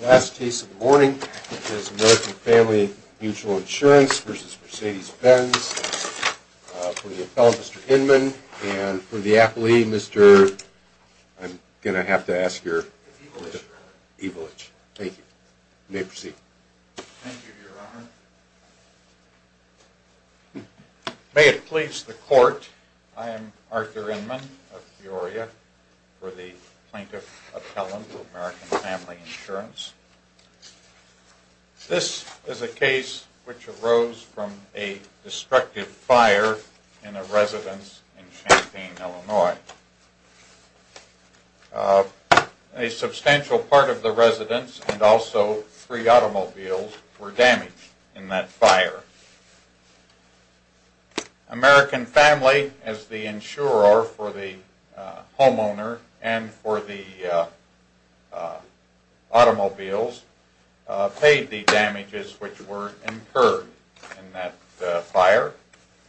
The last case of the morning is American Family Mutual Insurance v. Mercedes Benz. For the appellant, Mr. Inman, and for the appellee, Mr. — I'm going to have to ask your — Evelich. Evelich. Thank you. You may proceed. Thank you, Your Honor. May it please the Court, I am Arthur Inman of Peoria for the Plaintiff Appellant for American Family Insurance. This is a case which arose from a destructive fire in a residence in Champaign, Illinois. A substantial part of the residence and also three automobiles were damaged in that fire. American Family, as the insurer for the homeowner and for the automobiles, paid the damages which were incurred in that fire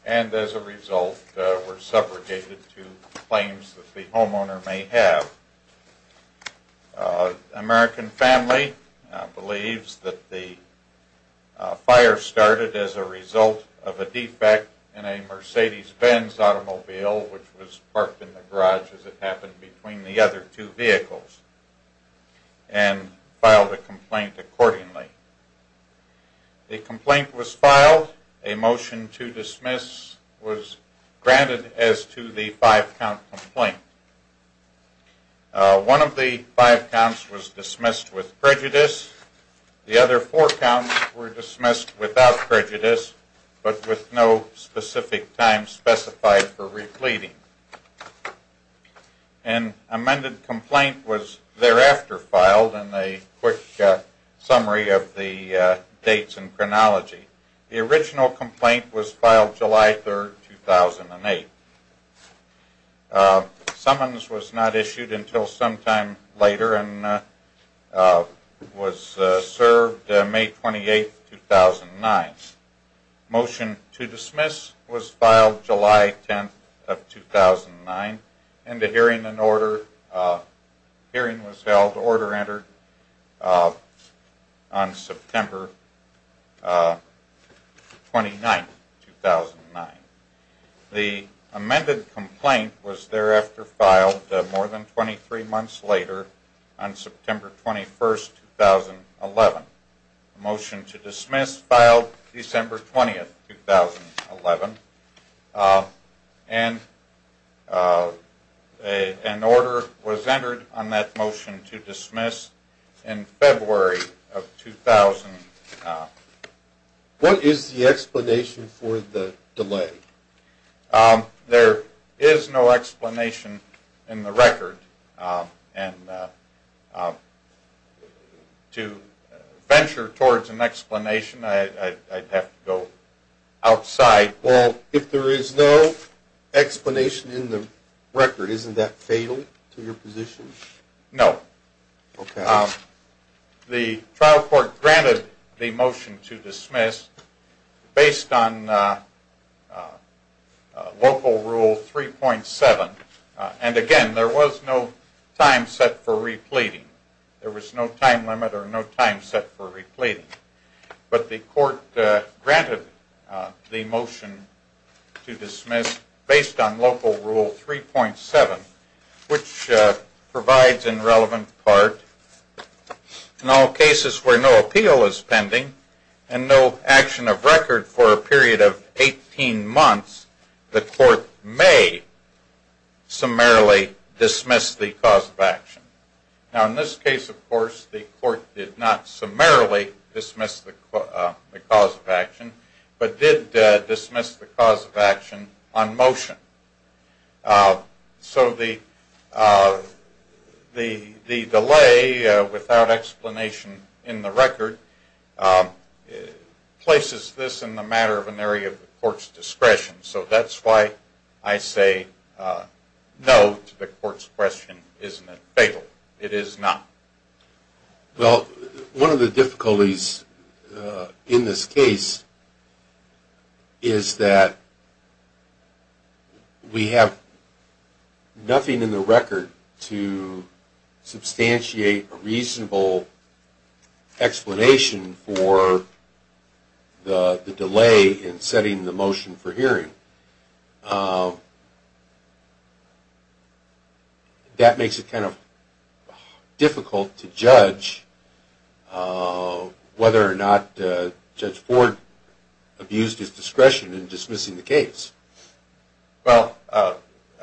and as a result were segregated to claims that the homeowner may have. American Family believes that the fire started as a result of a defect in a Mercedes Benz automobile which was parked in the garage as it happened between the other two vehicles and filed a complaint accordingly. The complaint was filed. A motion to dismiss was granted as to the five-count complaint. One of the five counts was dismissed with prejudice. The other four counts were dismissed without prejudice but with no specific time specified for repleting. An amended complaint was thereafter filed and a quick summary of the dates and chronology. The original complaint was filed July 3, 2008. A summons was not issued until sometime later and was served May 28, 2009. A motion to dismiss was filed July 10, 2009 and a hearing was held. The order entered on September 29, 2009. The amended complaint was thereafter filed more than 23 months later on September 21, 2011. A motion to dismiss filed December 20, 2011 and an order was entered on that motion to dismiss in February of 2000. What is the explanation for the delay? There is no explanation in the record and to venture towards an explanation I'd have to go outside. Well, if there is no explanation in the record isn't that fatal to your position? No. Okay. The trial court granted the motion to dismiss based on local rule 3.7. And again, there was no time set for repleting. There was no time limit or no time set for repleting. But the court granted the motion to dismiss based on local rule 3.7, which provides in relevant part, in all cases where no appeal is pending and no action of record for a period of 18 months, the court may summarily dismiss the cause of action. Now, in this case, of course, the court did not summarily dismiss the cause of action, but did dismiss the cause of action on motion. So the delay without explanation in the record places this in the matter of an area of the court's discretion. So that's why I say no to the court's question. Isn't it fatal? It is not. Well, one of the difficulties in this case is that we have nothing in the record to substantiate a reasonable explanation for the delay in setting the motion for hearing. That makes it kind of difficult to judge whether or not Judge Ford abused his discretion in dismissing the case. Well, I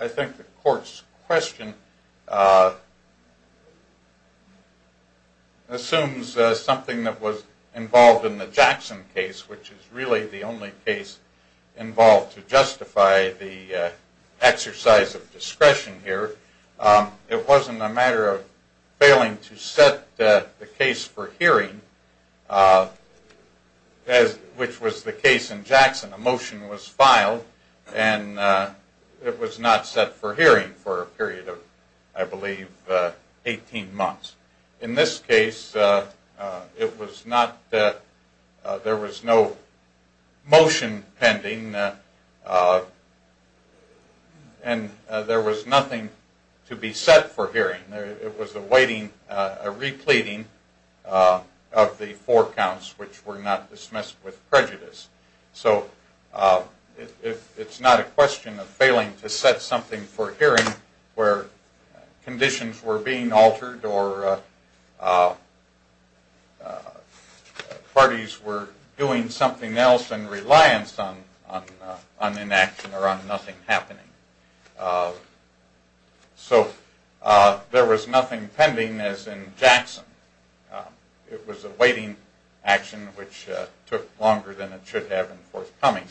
think the court's question assumes something that was involved in the Jackson case, which is really the only case involved to justify the exercise of discretion here. It wasn't a matter of failing to set the case for hearing, which was the case in Jackson. A motion was filed, and it was not set for hearing for a period of, I believe, 18 months. In this case, there was no motion pending, and there was nothing to be set for hearing. It was a waiting, a repleting of the four counts which were not dismissed with prejudice. So it's not a question of failing to set something for hearing where conditions were being altered or parties were doing something else in reliance on an action or on nothing happening. So there was nothing pending as in Jackson. It was a waiting action which took longer than it should have in forthcoming.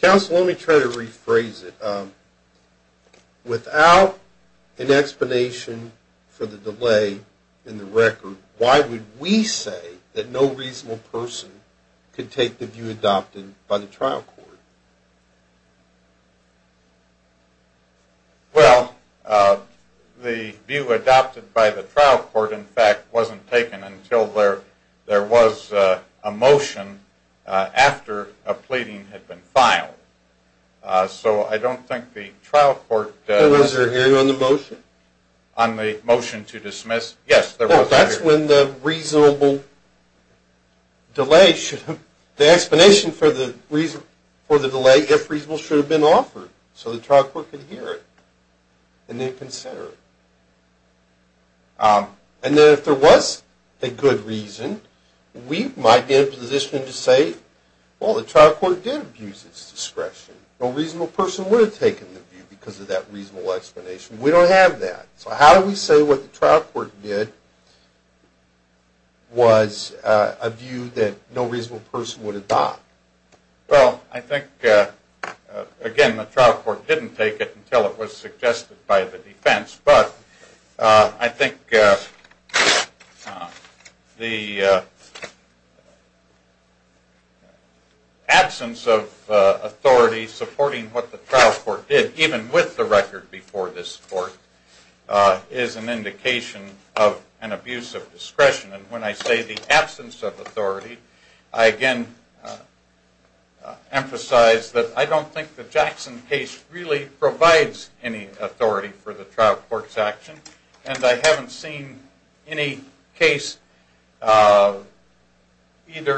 Counsel, let me try to rephrase it. Without an explanation for the delay in the record, why would we say that no reasonable person could take the view adopted by the trial court? Well, the view adopted by the trial court, in fact, wasn't taken until there was a motion after a pleading had been filed. So I don't think the trial court— Was there a hearing on the motion? On the motion to dismiss? Yes, there was a hearing. Well, that's when the explanation for the delay, if reasonable, should have been offered so the trial court could hear it and then consider it. And then if there was a good reason, we might be in a position to say, well, the trial court did abuse its discretion. No reasonable person would have taken the view because of that reasonable explanation. We don't have that. So how do we say what the trial court did was a view that no reasonable person would have thought? Well, I think, again, the trial court didn't take it until it was suggested by the defense. But I think the absence of authority supporting what the trial court did, even with the record before this court, is an indication of an abuse of discretion. And when I say the absence of authority, I again emphasize that I don't think the Jackson case really provides any authority for the trial court's action. And I haven't seen any case, either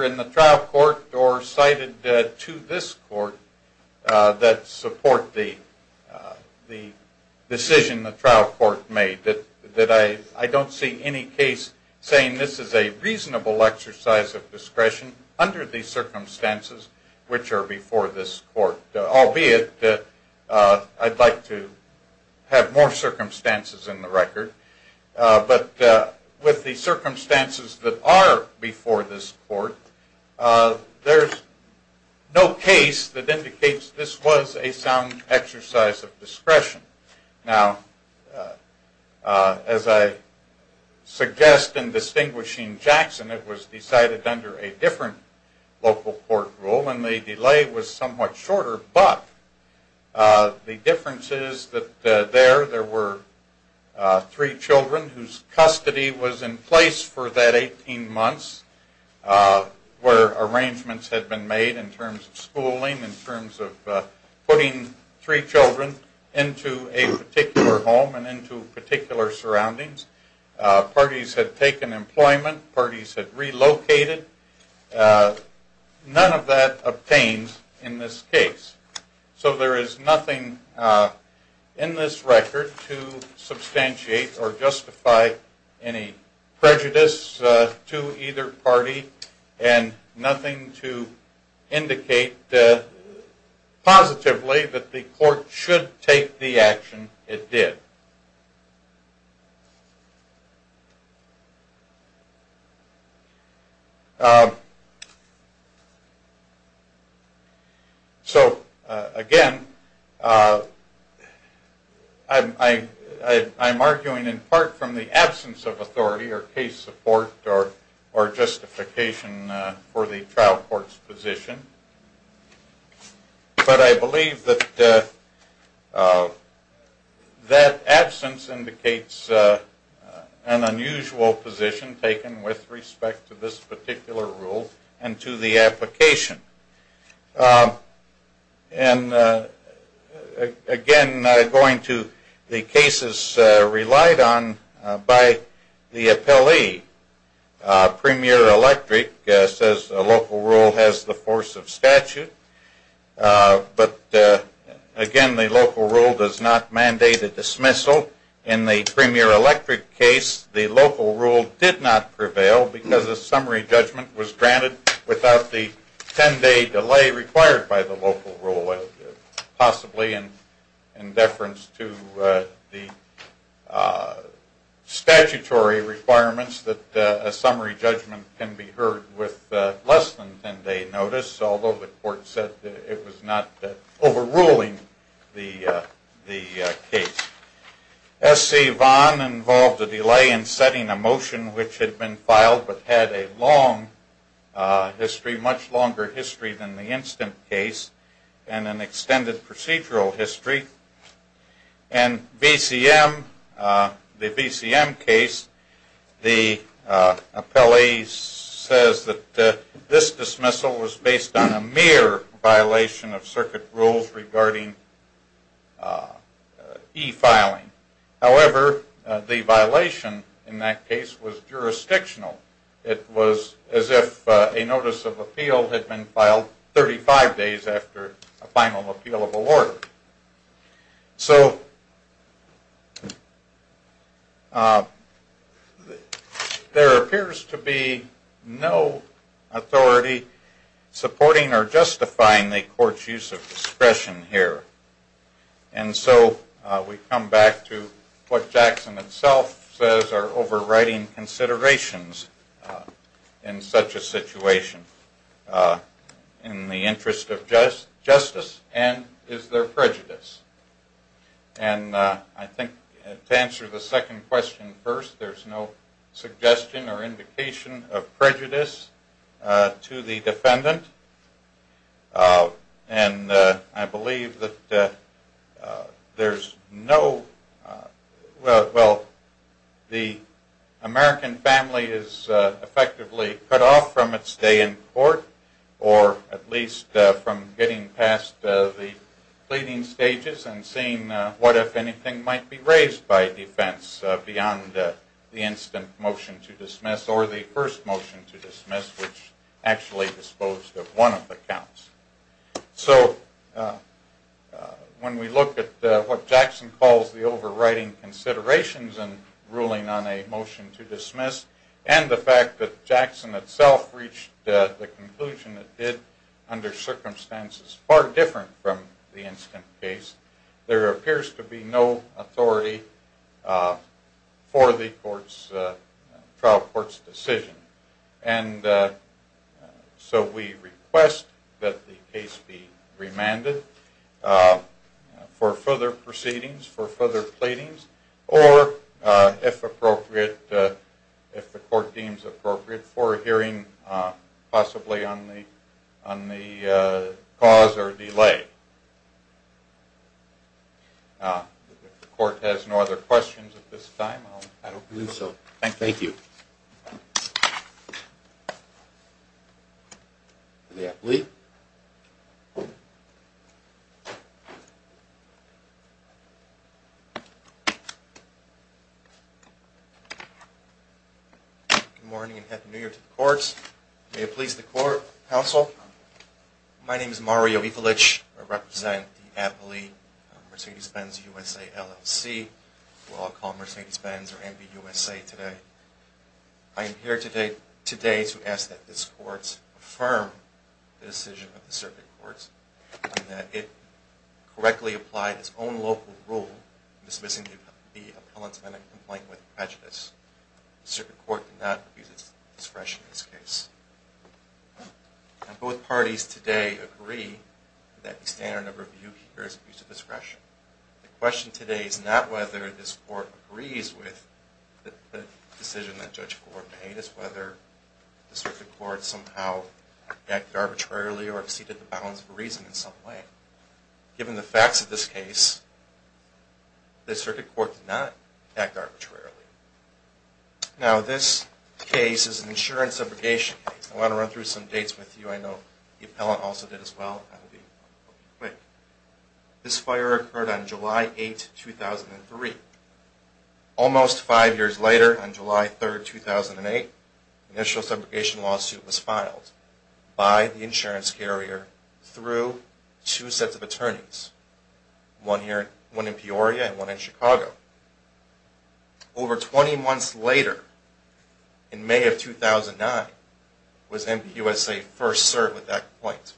in the trial court or cited to this court, that support the decision the trial court made. I don't see any case saying this is a reasonable exercise of discretion under the circumstances which are before this court. Albeit, I'd like to have more circumstances in the record. But with the circumstances that are before this court, there's no case that indicates this was a sound exercise of discretion. Now, as I suggest in distinguishing Jackson, it was decided under a different local court rule, and the delay was somewhat shorter. But the difference is that there, there were three children whose custody was in place for that 18 months, where arrangements had been made in terms of schooling, in terms of putting three children into a particular home and into particular surroundings. Parties had taken employment. Parties had relocated. None of that obtains in this case. So there is nothing in this record to substantiate or justify any prejudice to either party, and nothing to indicate positively that the court should take the action it did. So, again, I'm arguing in part from the absence of authority or case support or justification for the trial court's position. But I believe that absence indicates an unusual position taken with respect to this particular rule and to the application. And, again, going to the cases relied on by the appellee, Premier Electric says a local rule has the force of statute, but, again, the local rule does not mandate a dismissal. In the Premier Electric case, the local rule did not prevail because a summary judgment was granted without the 10-day delay required by the local rule, possibly in deference to the statutory requirements that a summary judgment can be heard with less than 10-day notice, although the court said it was not overruling the case. SC Vaughan involved a delay in setting a motion which had been filed but had a long history, a much longer history than the Instant case and an extended procedural history. In the VCM case, the appellee says that this dismissal was based on a mere violation of circuit rules regarding e-filing. However, the violation in that case was jurisdictional. It was as if a notice of appeal had been filed 35 days after a final appealable order. So there appears to be no authority supporting or justifying the court's use of discretion here. And so we come back to what Jackson itself says are overriding considerations in such a situation in the interest of justice, and is there prejudice? And I think to answer the second question first, there's no suggestion or indication of prejudice to the defendant, and I believe that there's no – well, the American family is effectively cut off from its day in court or at least from getting past the pleading stages and seeing what, if anything, might be raised by defense beyond the instant motion to dismiss or the first motion to dismiss, which actually disposed of one of the counts. So when we look at what Jackson calls the overriding considerations in ruling on a motion to dismiss and the fact that Jackson itself reached the conclusion it did under circumstances far different from the Instant case, there appears to be no authority for the trial court's decision. And so we request that the case be remanded for further proceedings, for further pleadings, or if appropriate, if the court deems appropriate, for a hearing possibly on the cause or delay. If the court has no other questions at this time, I'll – Thank you. The appellee. Good morning and Happy New Year to the courts. May it please the court, counsel. My name is Mario Ivulich. I represent the appellee Mercedes-Benz USA LLC, who I'll call Mercedes-Benz or MBUSA today. I am here today to ask that this court affirm the decision of the circuit courts and that it correctly apply its own local rule dismissing the appellant's medical complaint with prejudice. The circuit court does not refuse its discretion in this case. Both parties today agree that the standard of review here is abuse of discretion. The question today is not whether this court agrees with the decision that Judge Ford made, it's whether the circuit court somehow acted arbitrarily or exceeded the balance of reason in some way. Given the facts of this case, the circuit court did not act arbitrarily. Now, this case is an insurance subrogation case. I want to run through some dates with you. I know the appellant also did as well. This fire occurred on July 8, 2003. Almost five years later, on July 3, 2008, initial subrogation lawsuit was filed by the insurance carrier through two sets of attorneys, one in Peoria and one in Chicago. Over 20 months later, in May of 2009, was MBUSA first served with that complaint.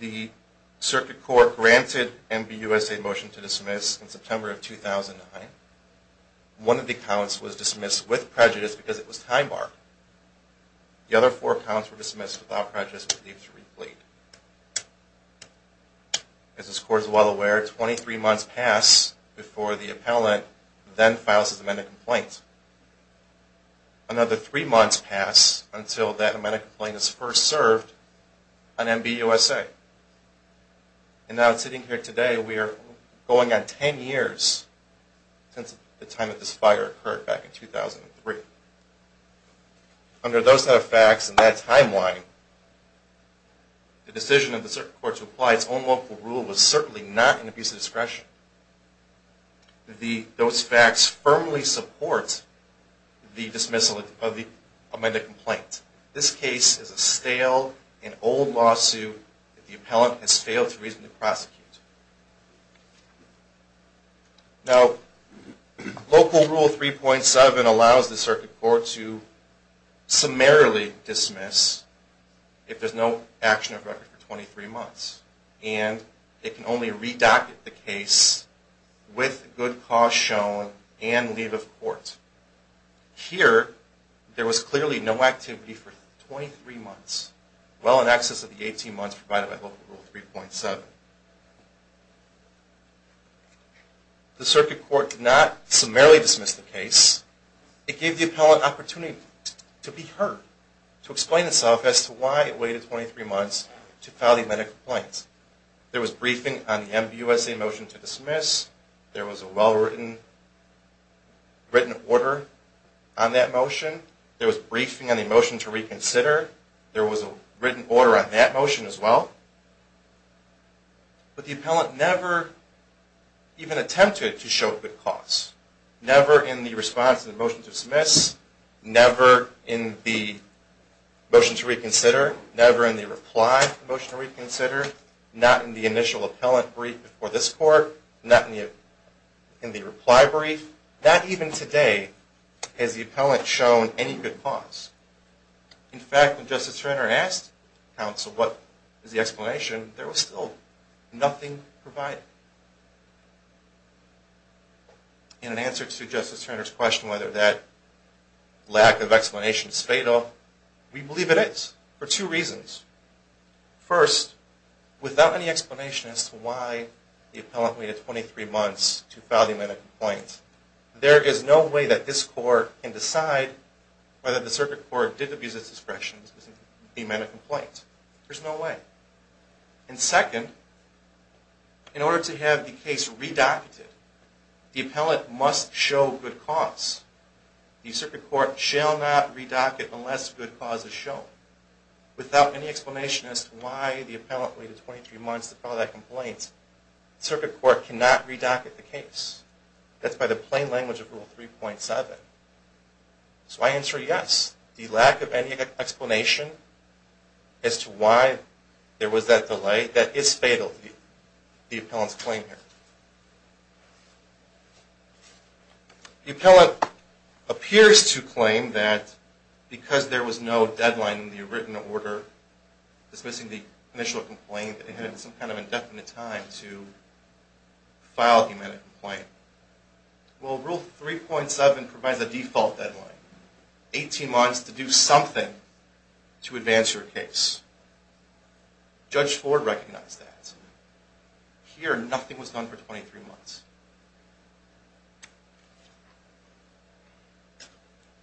The circuit court granted MBUSA a motion to dismiss in September of 2009. One of the accounts was dismissed with prejudice because it was time-barred. The other four accounts were dismissed without prejudice with leave to replete. As this court is well aware, 23 months passed before the appellant then files his amended complaint. Another three months passed until that amended complaint is first served on MBUSA. And now sitting here today, we are going on 10 years since the time that this fire occurred back in 2003. Under those set of facts and that timeline, the decision of the circuit court to apply its own local rule was certainly not in MBUSA's discretion. Those facts firmly support the dismissal of the amended complaint. This case is a stale and old lawsuit that the appellant has failed to reasonably prosecute. Now, local rule 3.7 allows the circuit court to summarily dismiss if there is no action of record for 23 months. And it can only redocket the case with good cause shown and leave of court. Here, there was clearly no activity for 23 months, well in excess of the 18 months provided by local rule 3.7. The circuit court did not summarily dismiss the case. It gave the appellant opportunity to be heard, to explain itself as to why it waited 23 months to file the amended complaint. There was briefing on the MBUSA motion to dismiss. There was a well-written order on that motion. There was briefing on the motion to reconsider. There was a written order on that motion as well. But the appellant never even attempted to show good cause. Never in the response to the motion to dismiss. Never in the motion to reconsider. Never in the reply to the motion to reconsider. Not in the initial appellant brief before this court. Not in the reply brief. Not even today has the appellant shown any good cause. In fact, when Justice Turner asked counsel what is the explanation, there was still nothing provided. In answer to Justice Turner's question whether that lack of explanation is fatal, we believe it is for two reasons. First, without any explanation as to why the appellant waited 23 months to file the amended complaint, there is no way that this court can decide whether the circuit court did abuse its discretion to dismiss the amended complaint. There's no way. And second, in order to have the case redocketed, the appellant must show good cause. The circuit court shall not redock it unless good cause is shown. Without any explanation as to why the appellant waited 23 months to file that complaint, the circuit court cannot redocket the case. That's by the plain language of Rule 3.7. So I answer yes. The lack of any explanation as to why there was that delay, that is fatal, the appellant's claim here. The appellant appears to claim that because there was no deadline in the written order dismissing the initial complaint that it had some kind of indefinite time to file the amended complaint. Well, Rule 3.7 provides a default deadline, 18 months to do something to advance your case. Judge Ford recognized that. Here, nothing was done for 23 months.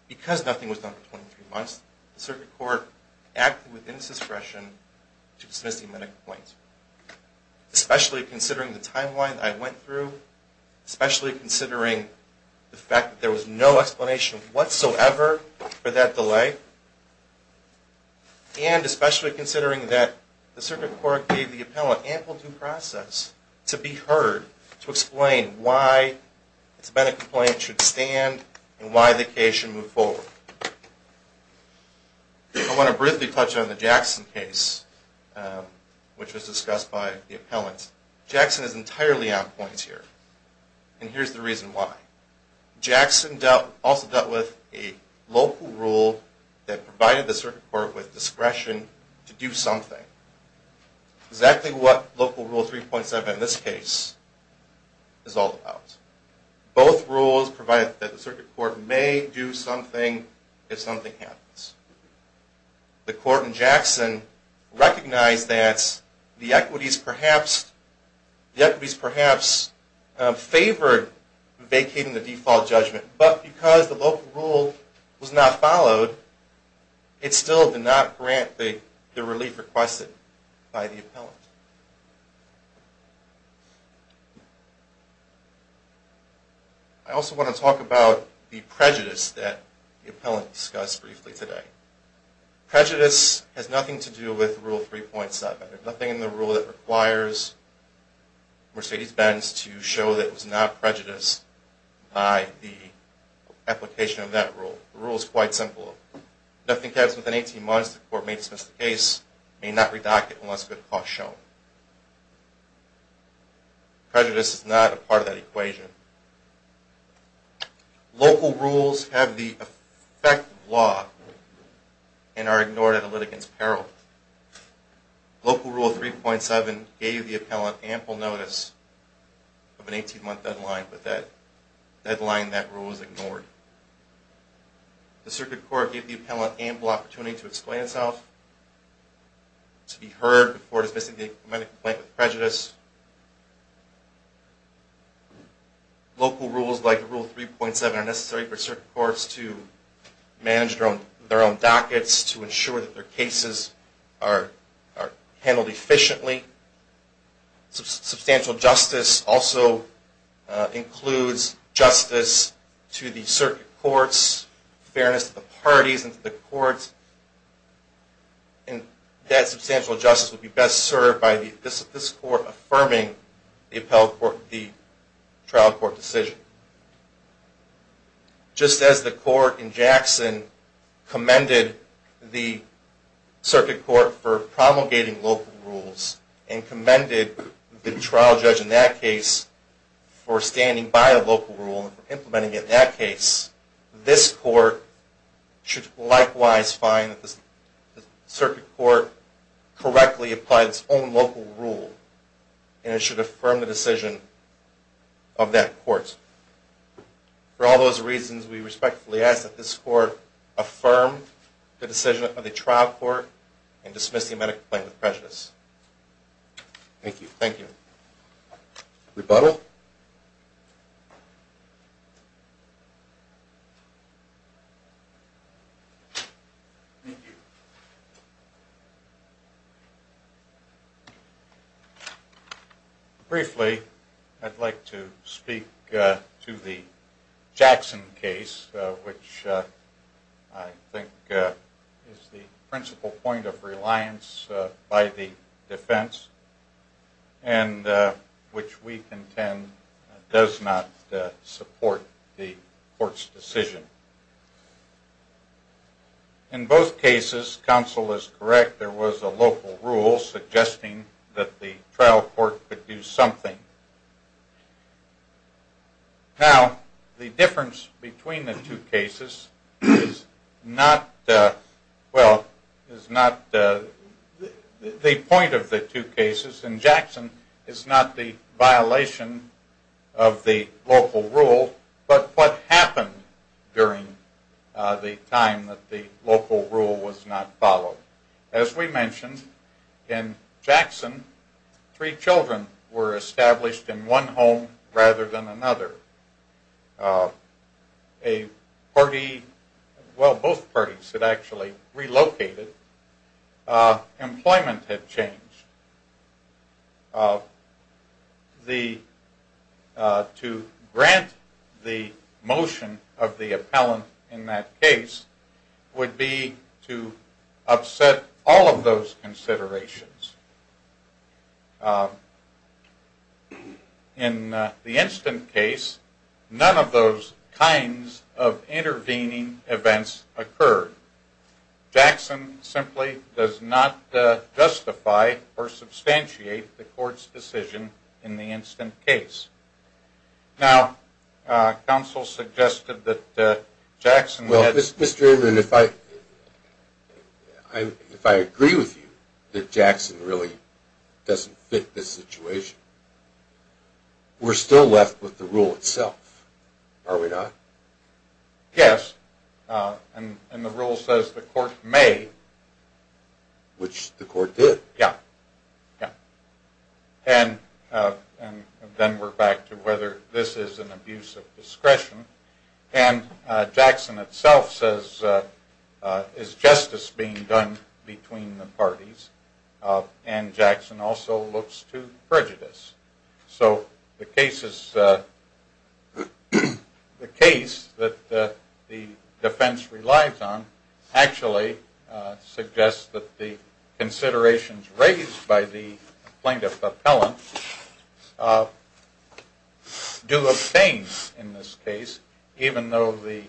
Because nothing was done for 23 months, the circuit court acted within its discretion to dismiss the amended complaint. Especially considering the timeline that I went through. Especially considering the fact that there was no explanation whatsoever for that delay. And especially considering that the circuit court gave the appellant ample due process to be heard, to explain why it's been a complaint should stand and why the case should move forward. I want to briefly touch on the Jackson case, which was discussed by the appellant. Jackson is entirely on point here. And here's the reason why. Jackson also dealt with a local rule that provided the circuit court with discretion to do something. Exactly what Local Rule 3.7 in this case is all about. Both rules provide that the circuit court may do something if something happens. The court in Jackson recognized that the equities perhaps favored vacating the default judgment. But because the local rule was not followed, it still did not grant the relief requested by the appellant. I also want to talk about the prejudice that the appellant discussed briefly today. Prejudice has nothing to do with Rule 3.7. There's nothing in the rule that requires Mercedes-Benz to show that it was not prejudiced by the application of that rule. The rule is quite simple. Nothing comes within 18 months. The court may dismiss the case, may not redact it unless a good cause is shown. Prejudice is not a part of that equation. Local rules have the effect of law and are ignored at a litigant's peril. Local Rule 3.7 gave the appellant ample notice of an 18-month deadline, but that deadline, that rule was ignored. The circuit court gave the appellant ample opportunity to explain itself, to be heard before dismissing the medical complaint with prejudice. Local rules like Rule 3.7 are necessary for circuit courts to manage their own dockets, to ensure that their cases are handled efficiently. Substantial justice also includes justice to the circuit courts, fairness to the parties and to the courts. And that substantial justice would be best served by this court affirming the trial court decision. Just as the court in Jackson commended the circuit court for promulgating local rules, and commended the trial judge in that case for standing by a local rule and implementing it in that case, this court should likewise find that the circuit court correctly applied its own local rule, and it should affirm the decision of that court. For all those reasons, we respectfully ask that this court affirm the decision of the trial court and dismiss the medical complaint with prejudice. Thank you. Rebuttal. Thank you. Briefly, I'd like to speak to the Jackson case, which I think is the principal point of reliance by the defense, and which we contend does not support the court's decision. In both cases, counsel is correct, there was a local rule suggesting that the trial court could do something. Now, the difference between the two cases is not, well, is not the point of the two cases. In Jackson, it's not the violation of the local rule, but what happened during the time that the local rule was not followed. As we mentioned, in Jackson, three children were established in one home rather than another. A party, well, both parties had actually relocated. Employment had changed. The, to grant the motion of the appellant in that case would be to upset all of those considerations. In the instant case, none of those kinds of intervening events occurred. Jackson simply does not justify or substantiate the court's decision in the instant case. Now, counsel suggested that Jackson had... Well, Mr. Ingram, if I agree with you that Jackson really doesn't fit this situation, we're still left with the rule itself, are we not? Yes, and the rule says the court may. Which the court did. Yeah, yeah. And then we're back to whether this is an abuse of discretion. And Jackson itself says, is justice being done between the parties? And Jackson also looks to prejudice. So the case that the defense relies on actually suggests that the considerations raised by the plaintiff appellant do obtain in this case, even though the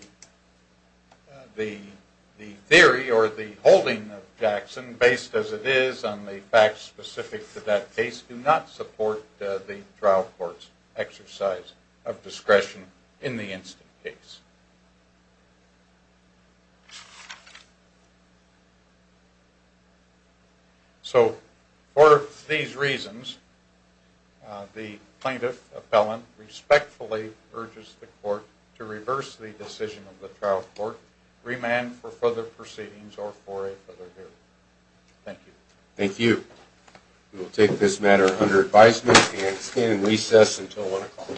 theory or the holding of Jackson, based as it is on the facts specific to that case, do not support the trial court's exercise of discretion in the instant case. So, for these reasons, the plaintiff appellant respectfully urges the court to reverse the decision of the trial court, remand for further proceedings or for a further hearing. Thank you. Thank you. We will take this matter under advisement and stand in recess until 1 o'clock.